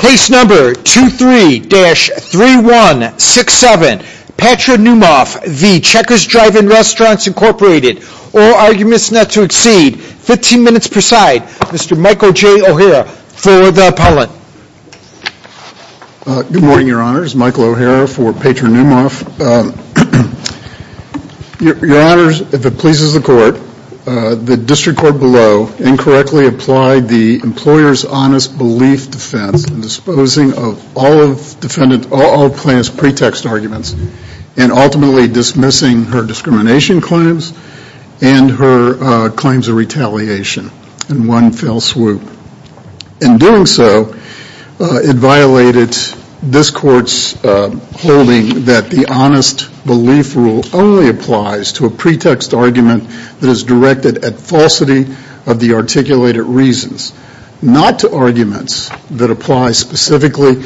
Case number 23-3167. Patra Noumoff v. Checkers Drive-In Restaurants, Inc. All arguments not to exceed 15 minutes per side. Mr. Michael J. O'Hara for the appellate. Good morning, Your Honors. Michael O'Hara for Patra Noumoff. Your Honors, if it pleases the Court, the district court below incorrectly applied the employer's honest belief defense in disposing of all plaintiff's pretext arguments and ultimately dismissing her discrimination claims and her claims of retaliation in one fell swoop. In doing so, it violated this Court's holding that the honest belief rule only applies to a pretext argument that is directed at falsity of the articulated reasons, not to arguments that apply specifically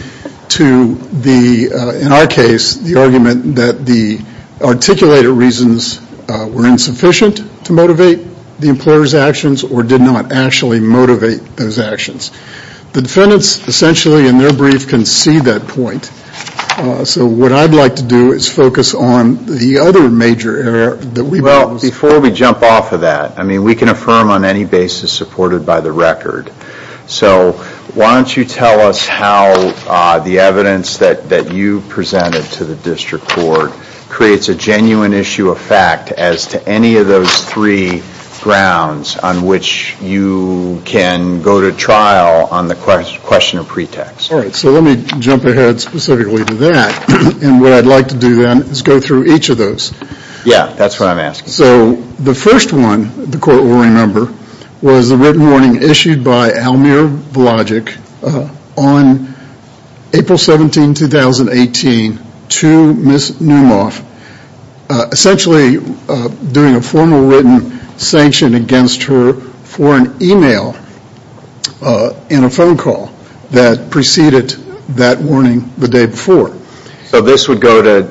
to the, in our case, the argument that the articulated reasons were insufficient to motivate the employer's actions or did not actually motivate those actions. The defendants essentially in their brief can see that point. So what I'd like to do is focus on the other major error that we've noticed. Well, before we jump off of that, I mean, we can affirm on any basis supported by the record. So why don't you tell us how the evidence that you presented to the district court creates a genuine issue of fact as to any of those three grounds on which you can go to trial on the question of pretext. All right, so let me jump ahead specifically to that. And what I'd like to do then is go through each of those. Yeah, that's what I'm asking. So the first one the Court will remember was a written warning issued by Almir Vologic on April 17, 2018 to Ms. Neumoff, essentially doing a formal written sanction against her for an email and a phone call that preceded that warning the day before. So this would go to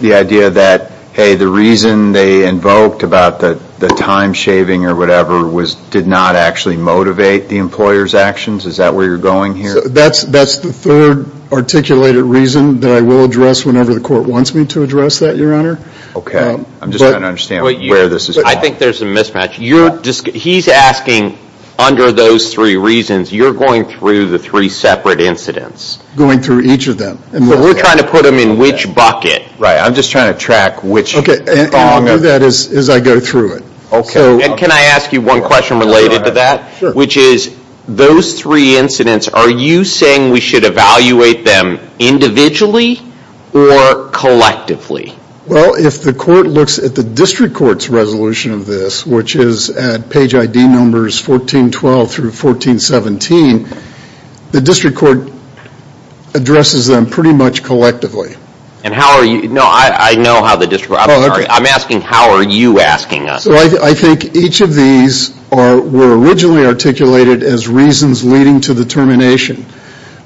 the idea that, hey, the reason they invoked about the time shaving or whatever did not actually motivate the employer's actions? Is that where you're going here? That's the third articulated reason that I will address whenever the Court wants me to address that, Your Honor. Okay, I'm just trying to understand where this is coming from. I think there's a mismatch. He's asking under those three reasons, you're going through the three separate incidents. Going through each of them. So we're trying to put them in which bucket? Right, I'm just trying to track which. Okay, and I'll do that as I go through it. Okay, and can I ask you one question related to that? Sure. Which is those three incidents, are you saying we should evaluate them individually or collectively? Well, if the Court looks at the District Court's resolution of this, which is at page ID numbers 1412 through 1417, the District Court addresses them pretty much collectively. And how are you, no, I know how the District, I'm sorry, I'm asking how are you asking us? I think each of these were originally articulated as reasons leading to the termination.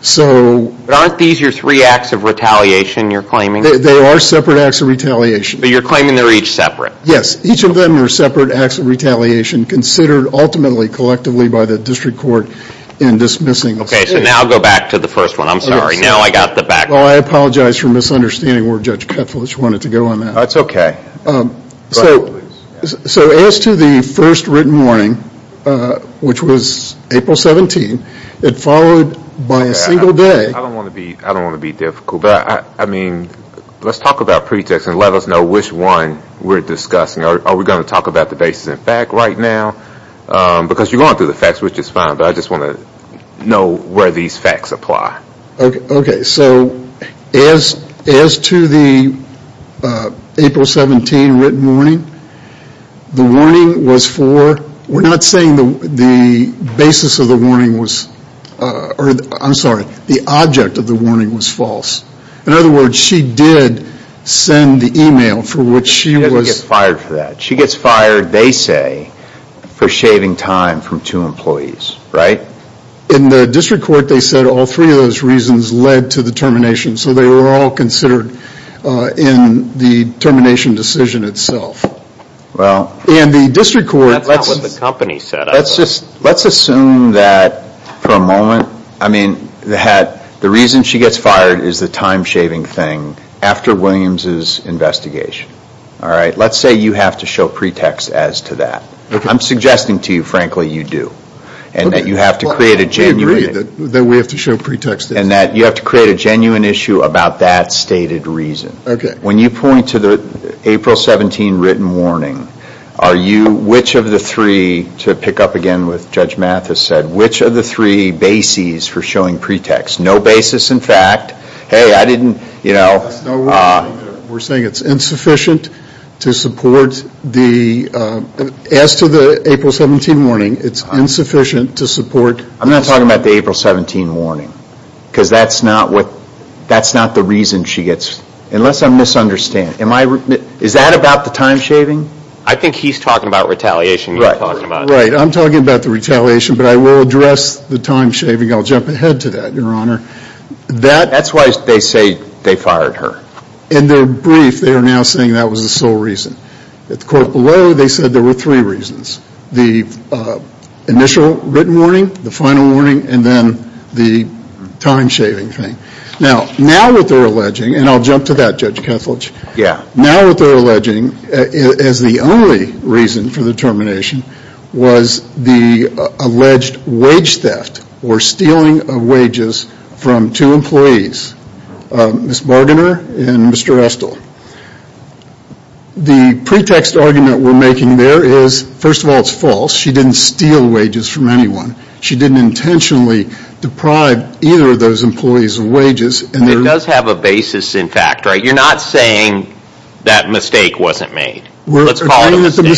So But aren't these your three acts of retaliation you're claiming? They are separate acts of retaliation. But you're claiming they're each separate? Yes, each of them are separate acts of retaliation considered ultimately collectively by the District Court in dismissing the state. Okay, so now I'll go back to the first one. I'm sorry, now I got the back. Well, I apologize for misunderstanding where Judge Ketelich wanted to go on that. That's okay. So as to the first written warning, which was April 17, it followed by a single day. I don't want to be difficult, but I mean, let's talk about pretext and let us know which one we're discussing. Are we going to talk about the basis in fact right now? Because you're going through the pretext, which is fine, but I just want to know where these facts apply. Okay, so as to the April 17 written warning, the warning was for, we're not saying the basis of the warning was, I'm sorry, the object of the warning was false. In other words, she did send the email for which she was fired for that. She gets fired, they say, for shaving time from two employees, right? In the District Court, they said all three of those reasons led to the termination, so they were all considered in the termination decision itself. Well, in the District Court, that's not what the company said. Let's assume that for a moment, I mean, the reason she gets fired is the time shaving thing after Williams' investigation. All right, let's say you have to show pretext as to that. I'm suggesting to you, frankly, you do, and that you have to create a genuine issue about that stated reason. When you point to the April 17 written warning, are you, which of the three, to pick up again with Judge Mathis said, which of the three bases for showing pretext? No basis in fact, hey, I didn't, you know. We're saying it's insufficient to support the, as to the April 17 warning, it's insufficient to support. I'm not talking about the April 17 warning, because that's not what, that's not the reason she gets, unless I'm misunderstanding. Is that about the time shaving? I think he's talking about retaliation. Right, I'm talking about the retaliation, but I will address the time shaving. I'll jump ahead to that, Your Honor. That's why they say they fired her. In their brief, they are now saying that was the sole reason. At the court below, they said there were three reasons. The initial written warning, the final warning, and then the time shaving thing. Now, now what they're alleging, and I'll jump to that, Judge Kethledge. Yeah. Now what they're alleging as the only reason for the termination was the alleged wage theft or stealing of wages from two employees, Ms. Bargainer and Mr. Restle. The pretext argument we're making there is, first of all, it's false. She didn't steal wages from anyone. She didn't intentionally deprive either of those employees of wages. It does have a basis in fact, right? You're not saying that mistake wasn't made. We're saying it didn't in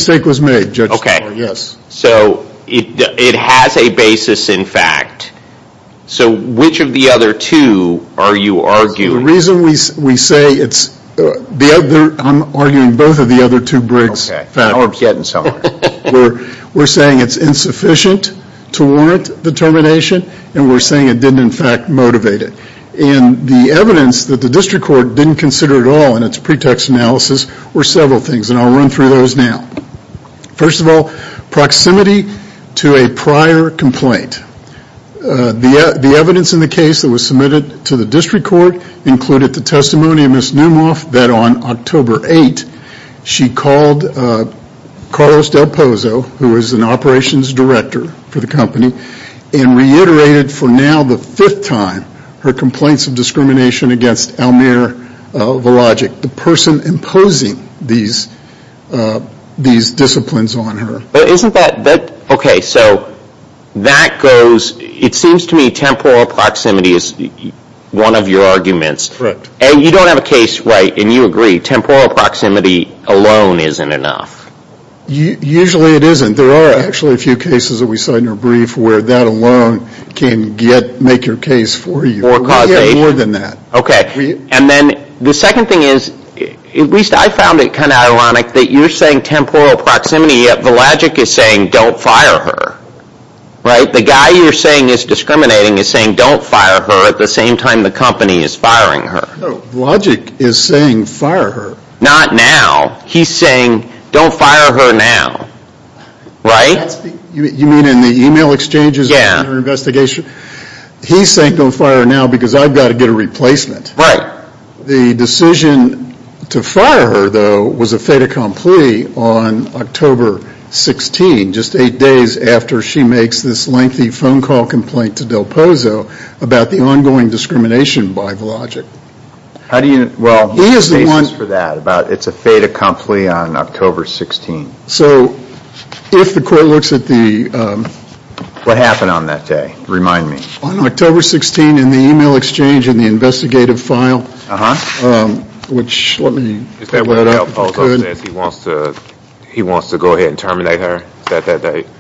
fact motivate it. The evidence that the district court didn't consider at all in its pretext analysis were several things, and I'll run through those now. First of all, proximity to a prior complaint. The evidence in the case that was submitted to the district court included the testimony of Ms. Neumoff that on October 8, she called Carlos Del Pozo, who is an operations director for the company, and reiterated for now the fifth time her complaints of discrimination against Almir Vologic, the person imposing these disciplines on her. Okay, so that goes, it seems to me temporal proximity is one of your arguments. Correct. And you don't have a case, right, and you agree, temporal proximity alone isn't enough. Usually it isn't. There are actually a few cases that we saw in your case for you. We have more than that. Okay, and then the second thing is, at least I found it kind of ironic that you're saying temporal proximity, yet Vologic is saying don't fire her. Right? The guy you're saying is discriminating is saying don't fire her at the same time the company is firing her. No, Vologic is saying fire her. Not now. He's saying don't fire her now. Right? You mean in the e-mail exchanges? Yeah. He's saying don't fire her now because I've got to get a replacement. Right. The decision to fire her, though, was a fait accompli on October 16, just eight days after she makes this lengthy phone call complaint to Del Pozo about the ongoing discrimination by Vologic. How do you, well, he is the one responsible for that. It's a fait accompli on October 16. So, if the court looks at the What happened on that day? Remind me. On October 16, in the e-mail exchange in the investigative file, which let me Is that where Del Pozo says he wants to go ahead and terminate her?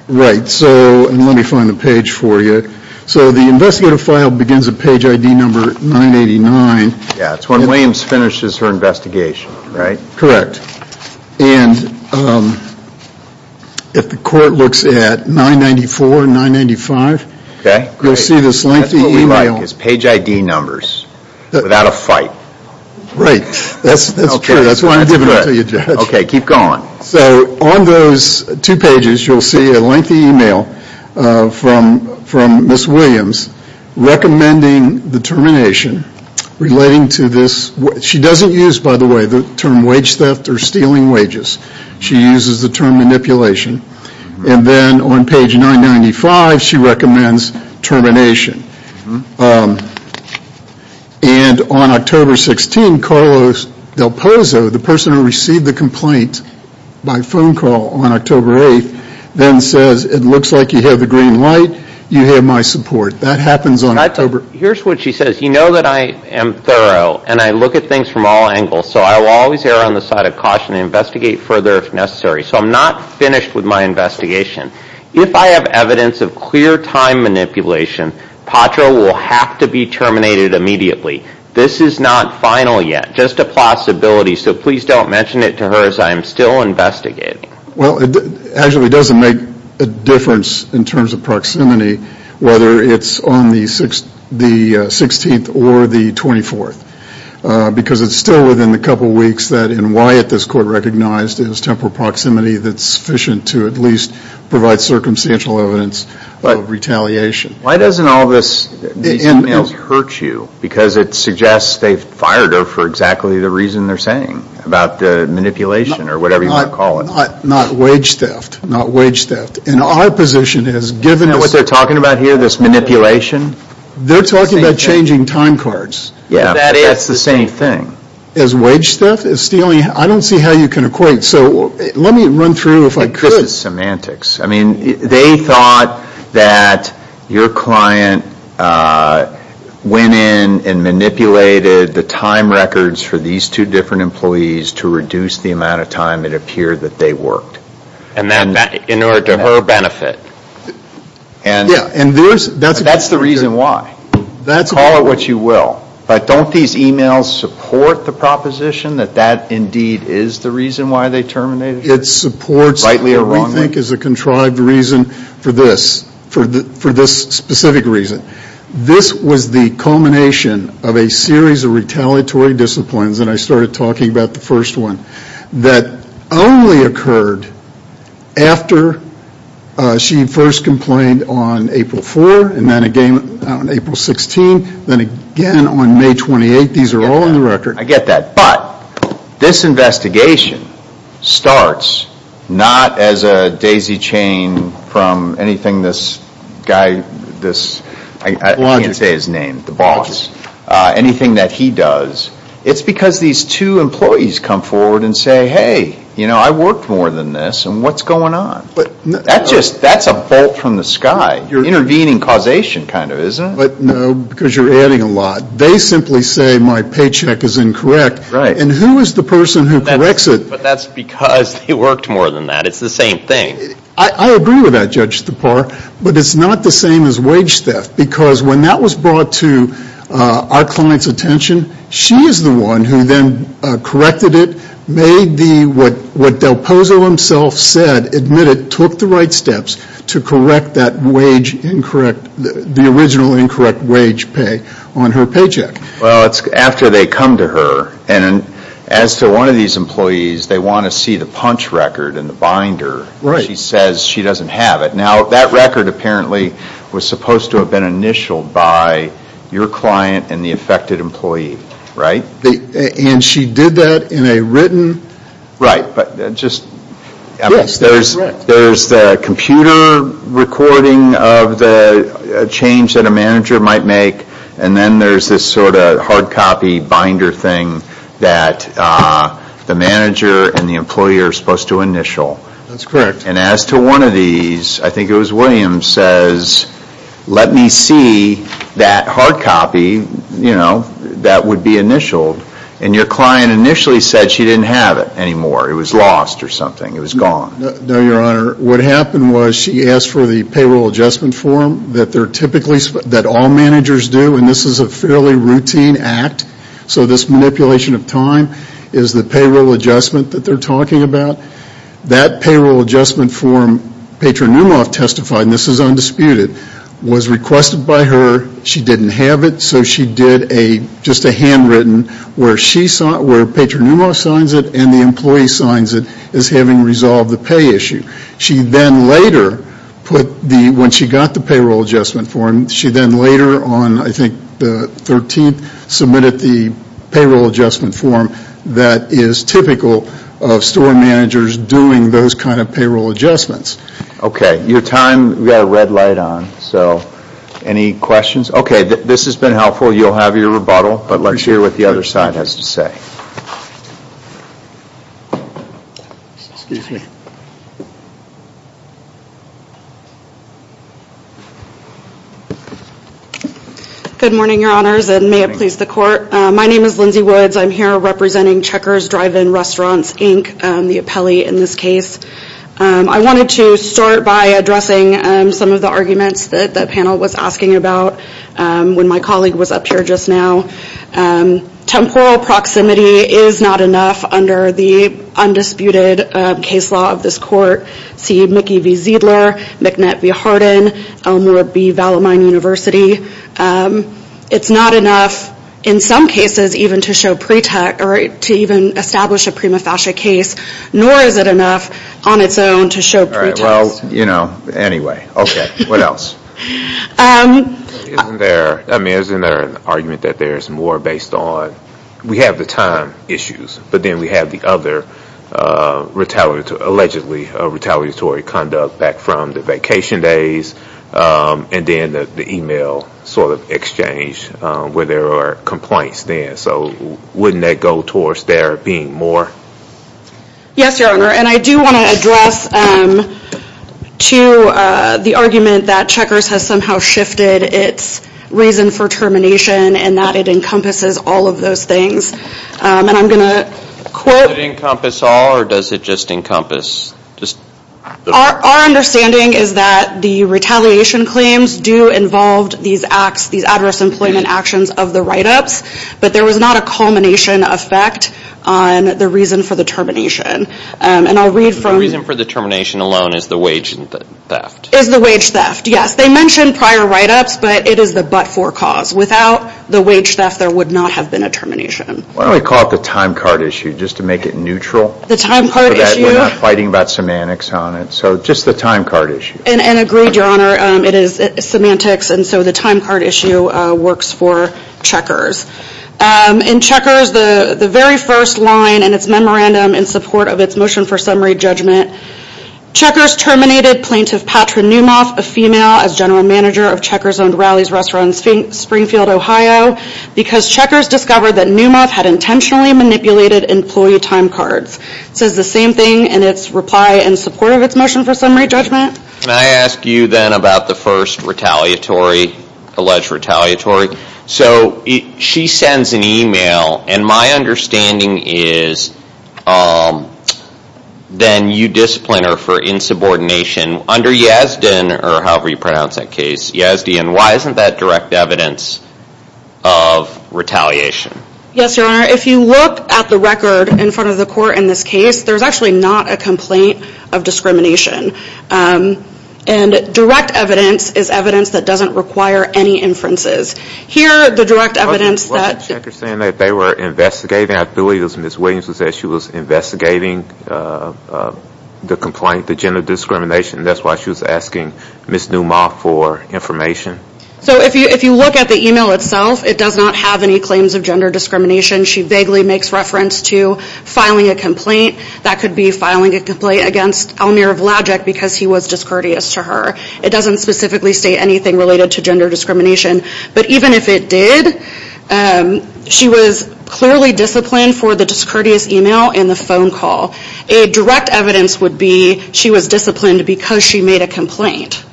Right. So, let me find the page for you. So the investigative file begins at page ID number 989. Yeah, it's when Williams finishes her investigation, right? Correct. And if the court looks at 994 and 995, you'll see this lengthy e-mail. That's what we like, is page ID numbers without a fight. Right. That's true. That's why I'm giving it to you, Judge. Okay, keep going. So, on those two pages, you'll see a lengthy e-mail from Ms. Williams recommending the termination relating to this. She doesn't use, by the way, the term wage theft or stealing wages. She uses the term manipulation. And then on page 995, she recommends termination. And on October 16, Carlos Del Pozo, the person who received the complaint by phone call on October 8, then says, it looks like you have the green light. You have my support. That happens on October... Here's what she says. You know that I am thorough and I look at things from all angles, so I will always err on the side of caution and investigate further if necessary. So I'm not finished with my investigation. If I have evidence of clear time manipulation, Patra will have to be terminated immediately. This is not final yet, just a possibility, so please don't mention it to her as I am still investigating. Well, it actually doesn't make a difference in terms of proximity, whether it's on the 16th or the 24th, because it's still within a couple of weeks that in Wyatt, this court recognized as temporal proximity that's sufficient to at least provide circumstantial evidence of retaliation. Why doesn't all this, these e-mails hurt you? Because it suggests they've fired her for exactly the reason they're saying, about the manipulation or whatever you want to call it. Not wage theft. Not wage theft. And our position is, given... You know what they're talking about here, this manipulation? They're talking about changing time cards. Yeah, that's the same thing. As wage theft, as stealing, I don't see how you can equate. So let me run through if I could. This is semantics. I mean, they thought that your client went in and manipulated the time records for these two different employees to reduce the amount of time it appeared that they worked. And then, in order to her benefit. And that's the reason why. Call it what you will. But don't these e-mails support the proposition that that indeed is the reason why they terminated her? It supports... Rightly or wrongly? ...what we think is a contrived reason for this, for this specific reason. This was the culmination of a series of retaliatory disciplines, and I started talking about the first one, that only occurred after she first complained on April 4, and then again on April 16, then again on May 28. These are all in the record. I get that. But, this investigation starts not as a daisy chain from anything this guy, this, I can't say his name, the boss, anything that he does. It's because these two employees come forward and say, hey, you know, I worked more than this, and what's going on? That's a bolt from the sky. Intervening causation, kind of, isn't it? But, no, because you're adding a lot. They simply say my paycheck is incorrect, and who is the person who corrects it? But that's because he worked more than that. It's the same thing. I agree with that, Judge Stepar, but it's not the same as wage theft, because when that was brought to our client's attention, she is the one who then corrected it, made the, what Del Pozo himself said, admitted, took the right steps to correct that wage, incorrect, the original incorrect wage pay on her paycheck. Well, it's after they come to her, and as to one of these employees, they want to see the punch record and the binder. She says she doesn't have it. Now, that record, apparently, was supposed to have been initialed by your client and the affected employee, right? And she did that in a written? Right, but just, I mean, there's the computer recording of the change that a manager might make, and then there's this sort of hard copy binder thing that the manager and the employee are supposed to initial. That's correct. And as to one of these, I think it was William, says, let me see that hard copy, you know, that would be initialed, and your client initially said she didn't have it anymore. It was lost or something. It was gone. No, Your Honor. What happened was she asked for the payroll adjustment form that they're typically, that all managers do, and this is a fairly routine act, so this manipulation of time is the payroll adjustment that they're talking about. That payroll adjustment form, Patronumov testified, and this is undisputed, was requested by her. She didn't have it, so she did just a handwritten where Patronumov signs it and the employee signs it as having resolved the pay issue. She then later put the, when she got the payroll adjustment form, she then later on, I think, the 13th, submitted the payroll adjustment form that is typical of store managers doing those kind of payroll adjustments. Okay. Your time, we've got a red light on, so any questions? Okay, this has been helpful. You'll have your rebuttal, but let's hear what the other side has to say. Good morning, Your Honors, and may it please the Court. My name is Lindsay Woods. I'm here representing Checkers Drive-In Restaurants, Inc., the appellee in this case. I wanted to start by addressing some of the arguments that the panel was asking about when my colleague was up here just now. Temporal proximity is not enough under the undisputed case law of this Court. See Mickey V. Ziedler, McNett V. Harden, Elmer B. Vallemine University. It's not enough, in some cases, even to show pretext or to even establish a prima facie case, nor is it enough on its own to show pretext. Okay, well, you know, anyway. Okay, what else? I mean, isn't there an argument that there's more based on, we have the time issues, but then we have the other allegedly retaliatory conduct back from the vacation days and then the email sort of exchange where there are complaints there. So wouldn't that go towards there being more? Yes, Your Honor. And I do want to address to the argument that Checkers has somehow shifted its reason for termination and that it encompasses all of those things. And I'm going to quote... Does it encompass all or does it just encompass? Our understanding is that the retaliation claims do involve these adverse employment actions of the write-ups, but there was not a culmination effect on the reason for the termination. And I'll read from... The reason for the termination alone is the wage theft. Is the wage theft, yes. They mentioned prior write-ups, but it is the but-for cause. Without the wage theft, there would not have been a termination. Why don't we call it the time card issue, just to make it neutral? The time card issue... So that we're not fighting about semantics on it. So just the time card issue. And agreed, Your Honor. It is semantics, and so the time card issue works for Checkers. In Checkers, the very first line in its memorandum in support of its motion for summary judgment, Checkers terminated plaintiff Patra Newmoth, a female, as general manager of Checkers-owned Rowley's restaurant in Springfield, Ohio, because Checkers discovered that Newmoth had intentionally manipulated employee time cards. It says the same thing in its reply in support of its motion for summary judgment. Can I ask you then about the first retaliatory, alleged retaliatory? So she sends an email, and my understanding is then you discipline her for insubordination under Yazdian, or however you pronounce that case, Yazdian. Why isn't that direct evidence of retaliation? Yes, Your Honor. If you look at the record in front of the court in this case, there's actually not a complaint of discrimination. And direct evidence is evidence that doesn't require any inferences. Here, the direct evidence that... What was Checkers saying that they were investigating? I believe it was Ms. Williams who said she was investigating the complaint, the gender discrimination, and that's why she was asking Ms. Newmoth for information. So if you look at the email itself, it does not have any claims of gender discrimination. She vaguely makes reference to filing a complaint. That could be filing a complaint against Elmir Vlajic because he was discourteous to her. It doesn't specifically state anything related to gender discrimination. But even if it did, she was clearly disciplined for the discourteous email and the phone call. A direct evidence would be she was disciplined because she made a complaint.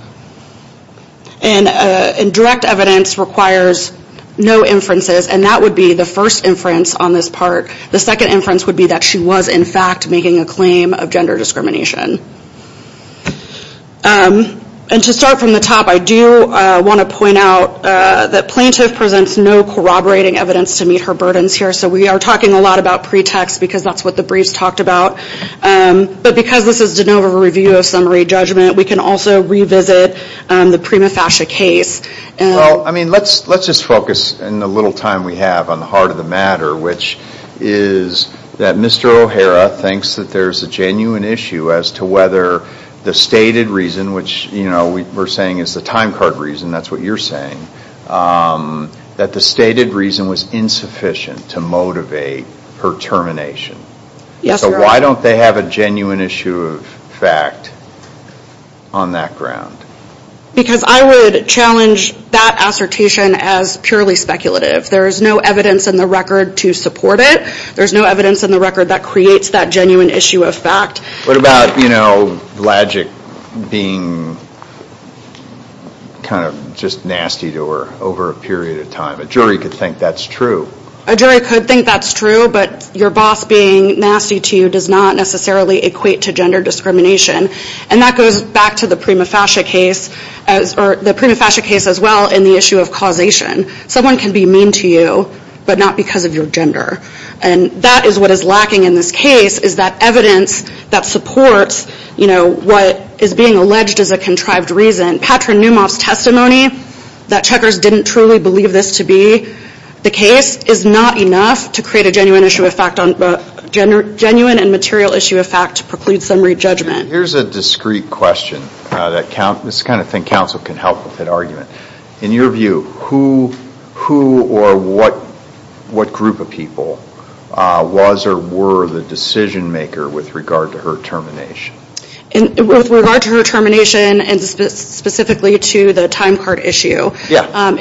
And direct evidence requires no inferences, and that would be the first inference on this part. The second inference would be that she was, in fact, making a claim of gender discrimination. And to start from the top, I do want to point out that Plaintiff presents no corroborating evidence to meet her burdens here. So we are talking a lot about pretext because that's what the briefs talked about. But because this is de novo review of summary judgment, we can also revisit the Prima Fascia case. Let's just focus in the little time we have on the heart of the matter, which is that Mr. O'Hara thinks that there's a genuine issue as to whether the stated reason, which we're saying is the time card reason, that's what you're saying, that the stated reason was insufficient to motivate her termination. So why don't they have a genuine issue of fact on that ground? Because I would challenge that assertation as purely speculative. There's no evidence in the record to support it. There's no evidence in the record that creates that genuine issue of fact. What about, you know, Blagic being kind of just nasty to her over a period of time? A jury could think that's true. A jury could think that's true, but your boss being nasty to you does not necessarily equate to gender discrimination. And that goes back to the Prima Fascia case, or the Prima Fascia case as well, in the issue of causation. Someone can be mean to you, but not because of your gender. And that is what is lacking in this case, is that evidence that supports, you know, what is being alleged as a contrived reason. Patrick Neumoff's testimony that checkers didn't truly believe this to be the case is not enough to create a genuine issue of fact, a genuine and material issue of fact to preclude summary judgment. Here's a discreet question. This is the kind of thing counsel can help with at argument. In your view, who or what group of people was or were the decision maker with regard to her termination? With regard to her termination, and specifically to the time card issue. Yeah,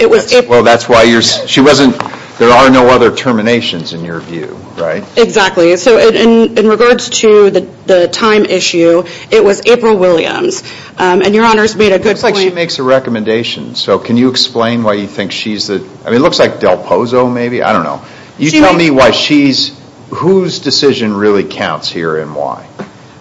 well that's why she wasn't, there are no other terminations in your view, right? Exactly. So in regards to the time issue, it was April Williams. And your honors made a good point. It looks like she makes a recommendation. So can you explain why you think she's the, I mean it looks like Del Pozo maybe, I don't know. You tell me why she's, whose decision really counts here and why?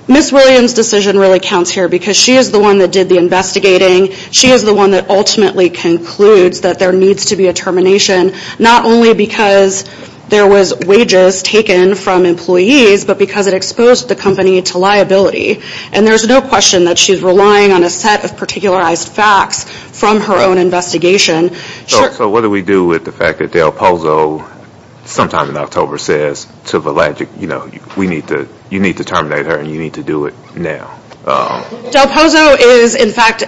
Ms. Williams' decision really counts here because she is the one that did the investigating. She is the one that ultimately concludes that there needs to be a termination, not only because there was wages taken from employees, but because it exposed the company to liability. And there's no question that she's relying on a set of particularized facts from her own investigation. So what do we do with the fact that Del Pozo sometime in October says to Valagic, you know, we need to, you need to terminate her and you need to do it now. Del Pozo is in fact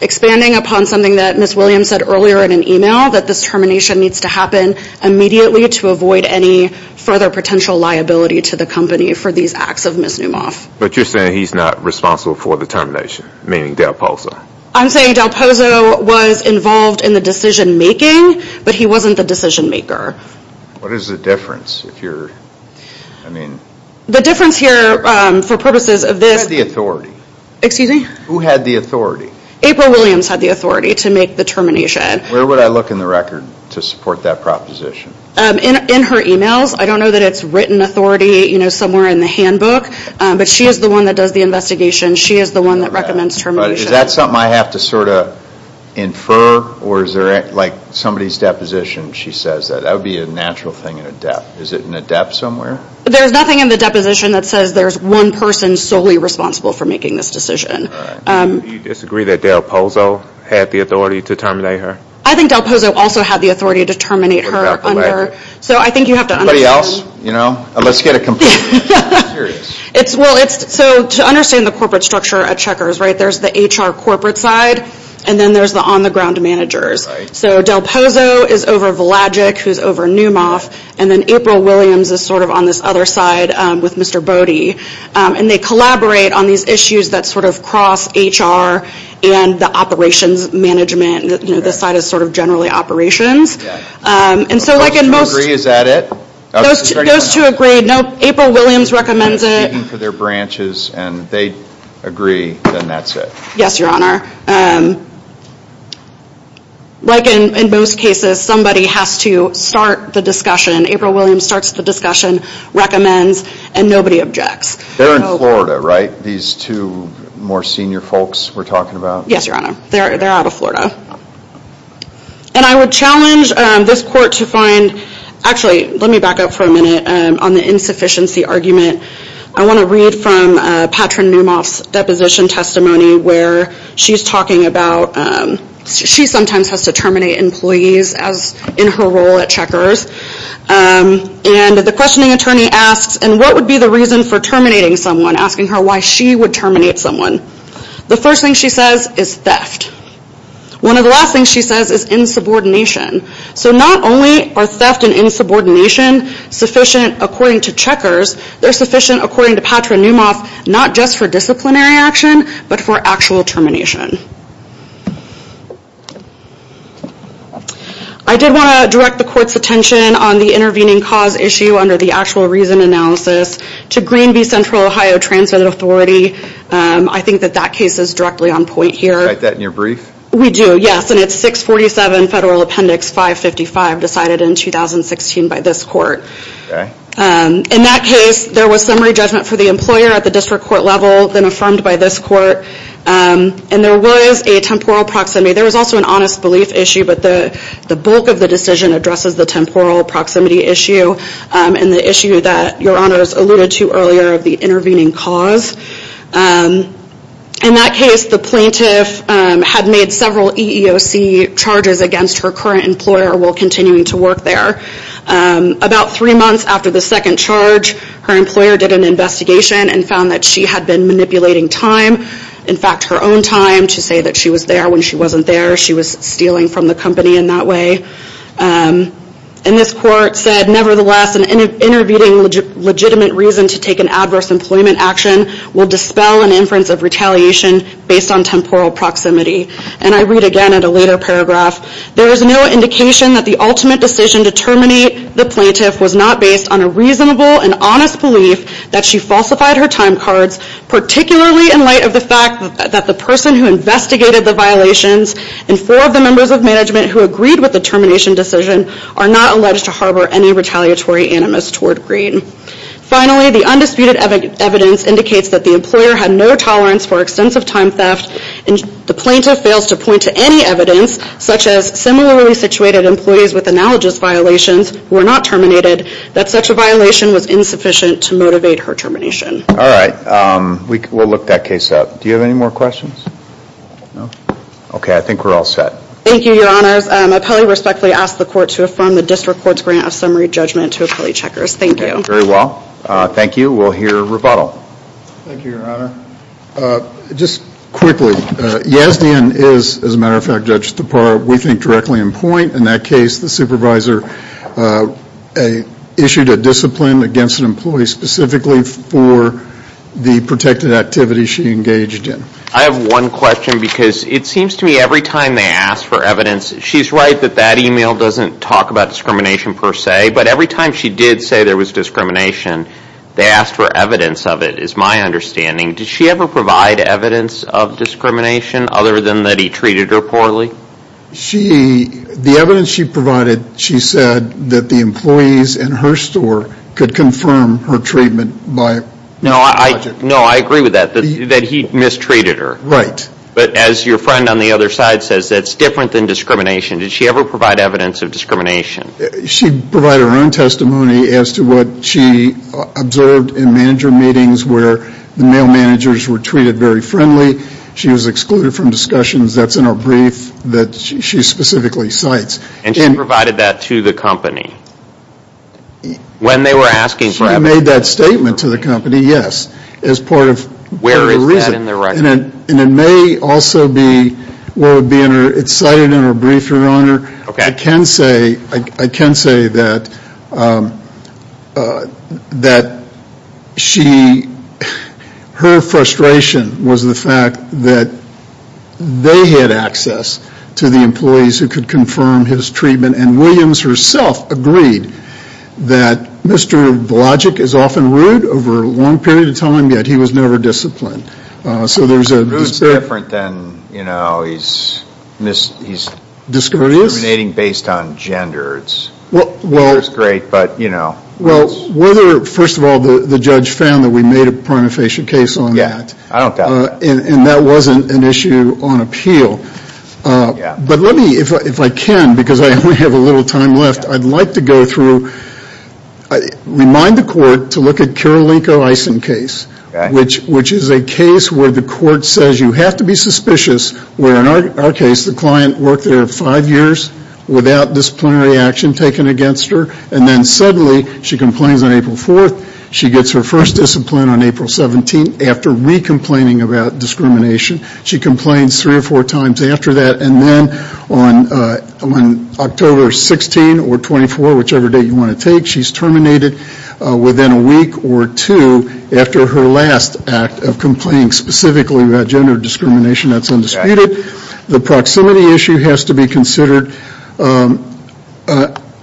expanding upon something that Ms. Williams said earlier in an email that this termination needs to happen immediately to avoid any further potential liability to the company for these acts of misnomer. But you're saying he's not responsible for the termination, meaning Del Pozo? I'm saying Del Pozo was involved in the decision making, but he wasn't the decision maker. What is the difference if you're, I mean. The difference here for purposes of this. Who had the authority? Excuse me? Who had the authority? April Williams had the authority to make the termination. Where would I look in the record to support that proposition? In her emails. I don't know that it's written authority, you know, somewhere in the handbook, but she is the one that does the investigation. She is the one that recommends termination. Is that something I have to sort of infer or is there like somebody's deposition she says that? That would be a natural thing in a debt. Is it in a debt somewhere? There's nothing in the deposition that says there's one person solely responsible for making this decision. Do you disagree that Del Pozo had the authority to terminate her? I think Del Pozo also had the authority to terminate her. So I think you have to understand. Anybody else? You know? Let's get it complete. I'm serious. It's, well it's, so to understand the corporate structure at Checkers, right, there's the HR corporate side and then there's the on the ground managers. So Del Pozo is over Velagic, who's over Newmoff, and then April Williams is sort of on this other side with Mr. Bode. And they collaborate on these issues that sort of cross HR and the operations management, you know, this side is sort of generally operations. And so like in most... Do those two agree? Is that it? Those two agree. Nope. April Williams recommends it. They're speaking for their branches and they agree, then that's it. Yes, Your Honor. Like in most cases, somebody has to start the discussion. April Williams starts the discussion, recommends, and nobody objects. They're in Florida, right? These two more senior folks we're talking about? Yes, Your Honor. They're out of Florida. And I would challenge this court to find, actually let me back up for a minute on the insufficiency argument. I want to read from Patrin Newmoff's deposition testimony where she's talking about... She sometimes has to terminate employees as in her role at Checkers. And the questioning attorney asks, and what would be the reason for terminating someone? Asking her why she would terminate someone. The first thing she says is theft. One of the last things she says is insubordination. So not only are theft and insubordination sufficient according to Checkers, they're sufficient according to Patrin Newmoff, not just for disciplinary action, but for actual termination. I did want to direct the court's attention on the intervening cause issue under the actual reason analysis to Green v. Central Ohio Transgender Authority. I think that that case is directly on point here. Did you write that in your brief? We do, yes. And it's 647 Federal Appendix 555, decided in 2016 by this court. In that case, there was summary judgment for the employer at the district court level, then affirmed by this court, and there was a temporal proximity. There was also an honest belief issue, but the bulk of the decision addresses the temporal proximity issue and the issue that your honors alluded to earlier of the intervening cause. In that case, the plaintiff had made several EEOC charges against her current employer while continuing to work there. About three months after the second charge, her employer did an investigation and found that she had been manipulating time, in fact her own time, to say that she was there when she wasn't there. She was stealing from the company in that way. And this court said, nevertheless, an intervening legitimate reason to take an adverse employment action will dispel an inference of retaliation based on temporal proximity. And I read again in a later paragraph, there is no indication that the ultimate decision to terminate the plaintiff was not based on a reasonable and honest belief that she falsified her time cards, particularly in light of the fact that the person who investigated the violations and four of the members of management who agreed with the termination decision are not alleged to harbor any retaliatory animus toward Greene. Finally, the undisputed evidence indicates that the employer had no tolerance for extensive time theft and the plaintiff fails to point to any evidence, such as similarly situated employees with analogous violations who were not terminated, that such a violation was insufficient to motivate her termination. Alright, we'll look that case up. Do you have any more questions? No? Okay, I think we're all set. Thank you, your honors. I probably respectfully ask the court to affirm the district court's grant of summary judgment to appellee checkers. Thank you. Very well. Thank you. We'll hear rebuttal. Thank you, your honor. Just quickly, Yazdian is, as a matter of fact, Judge Tapar, we think directly in point. In that case, the supervisor issued a discipline against an employee specifically for the protected activity she engaged in. I have one question because it seems to me every time they ask for evidence, she's right that that email doesn't talk about discrimination per se, but every time she did say there was discrimination, they asked for evidence of it, is my understanding. Did she ever provide evidence of discrimination other than that he treated her poorly? The evidence she provided, she said that the employees in her store could confirm her treatment by logic. No, I agree with that, that he mistreated her. Right. But as your friend on the other side says, that's different than discrimination. Did she ever provide evidence of discrimination? She provided her own testimony as to what she observed in manager meetings where the male managers were treated very friendly. She was excluded from discussions. That's in her brief that she specifically cites. And she provided that to the company? When they were asking for evidence? She made that statement to the company, yes. As part of her reason. Where is that in the record? And it may also be what would be in her, it's cited in her brief, your honor. Okay. I can say, I can say that, that she, her frustration was the fact that they had access to the employees who could confirm his treatment. And Williams herself agreed that Mr. Blodgett is often rude over a long period of time, yet he was never disciplined. So there's a... Rude is different than, you know, he's mis, he's discriminating based on gender. It's, it's great, but, you know. Well, whether, first of all, the judge found that we made a prima facie case on that. I don't doubt it. And that wasn't an issue on appeal. But let me, if I can, because I only have a little time left, I'd like to go through, remind the court to look at Kirilenko-Eisen case. Okay. Which, which is a case where the court says you have to be suspicious, where in our case, the client worked there five years without disciplinary action taken against her. And then suddenly, she complains on April 4th. She gets her first discipline on April 17th after re-complaining about discrimination. She complains three or four times after that. And then on, on October 16 or 24, whichever date you want to take, she's terminated within a week or two after her last act of complaining specifically about gender discrimination that's undisputed. The proximity issue has to be considered under,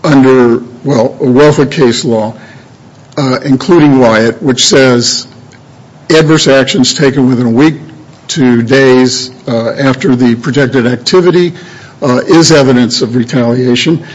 well, a welfare case law, including Wyatt, which says adverse actions taken within a week to days after the projected activity is evidence of retaliation.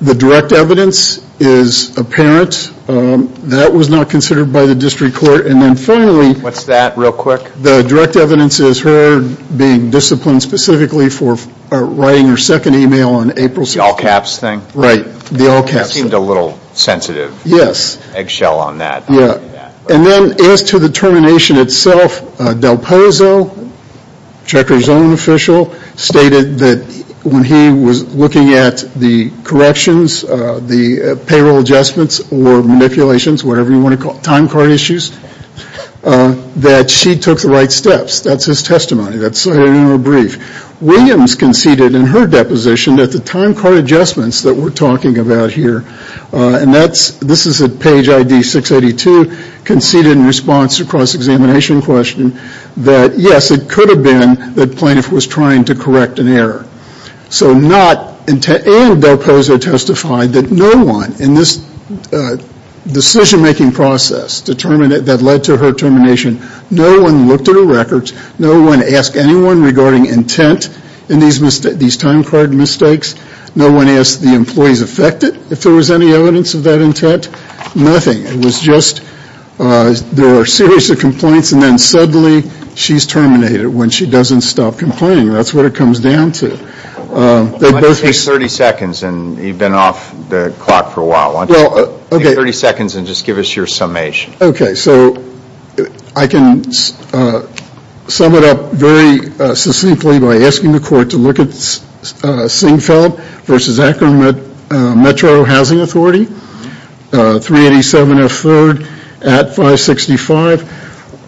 The direct evidence is apparent. That was not considered by the district court. And then finally. What's that? Real quick. The direct evidence is her being disciplined specifically for writing her second email on April 6th. The all caps thing? Right. The all caps. You seemed a little sensitive. Yes. Eggshell on that. And then as to the termination itself, Del Pozo, Trekker's own official, stated that when he was looking at the corrections, the payroll adjustments or manipulations, whatever you want to call it, time card issues, that she took the right steps. That's his testimony. That's in her brief. Williams conceded in her deposition that the time card adjustments that we're talking about here, and this is at page ID 682, conceded in response to a cross-examination question that yes, it could have been that Plaintiff was trying to correct an error. So not, and Del Pozo testified that no one in this decision making process that led to her termination, no one looked at her records, no one asked anyone regarding intent in these time card mistakes. No one asked the employees affected, if there was any evidence of that intent. Nothing. It was just, there were a series of complaints, and then suddenly she's terminated when she doesn't stop complaining. That's what it comes down to. Take 30 seconds, and you've been off the clock for a while, why don't you take 30 seconds and just give us your summation. Okay, so I can sum it up very succinctly by asking the court to look at Singfeld versus Akron Metro Housing Authority, 387 F. 3rd at 565,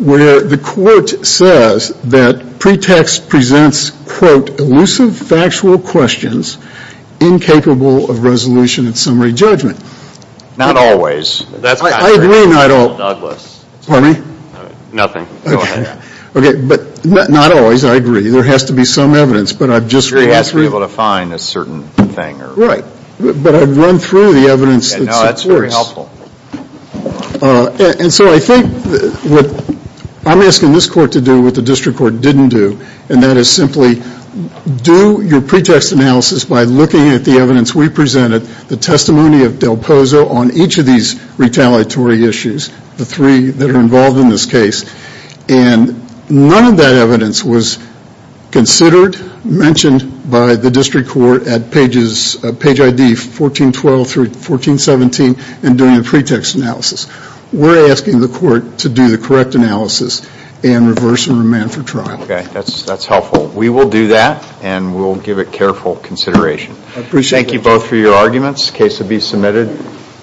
where the court says that pretext presents, quote, elusive factual questions, incapable of resolution and summary judgment. Not always. I agree not always. Pardon me? Nothing. Okay. But not always, I agree. There has to be some evidence. But I've just. You have to be able to find a certain thing. Right. But I've run through the evidence. Yeah, no, that's very helpful. And so I think what I'm asking this court to do, what the district court didn't do, and that is simply do your pretext analysis by looking at the evidence we presented, the testimony of Del Pozo on each of these retaliatory issues, the three that are involved in this case, and none of that evidence was considered, mentioned by the district court at page ID 1412 through 1417 in doing a pretext analysis. We're asking the court to do the correct analysis and reverse and remand for trial. Okay, that's helpful. We will do that and we'll give it careful consideration. I appreciate you. Thank you both for your arguments. The case will be submitted.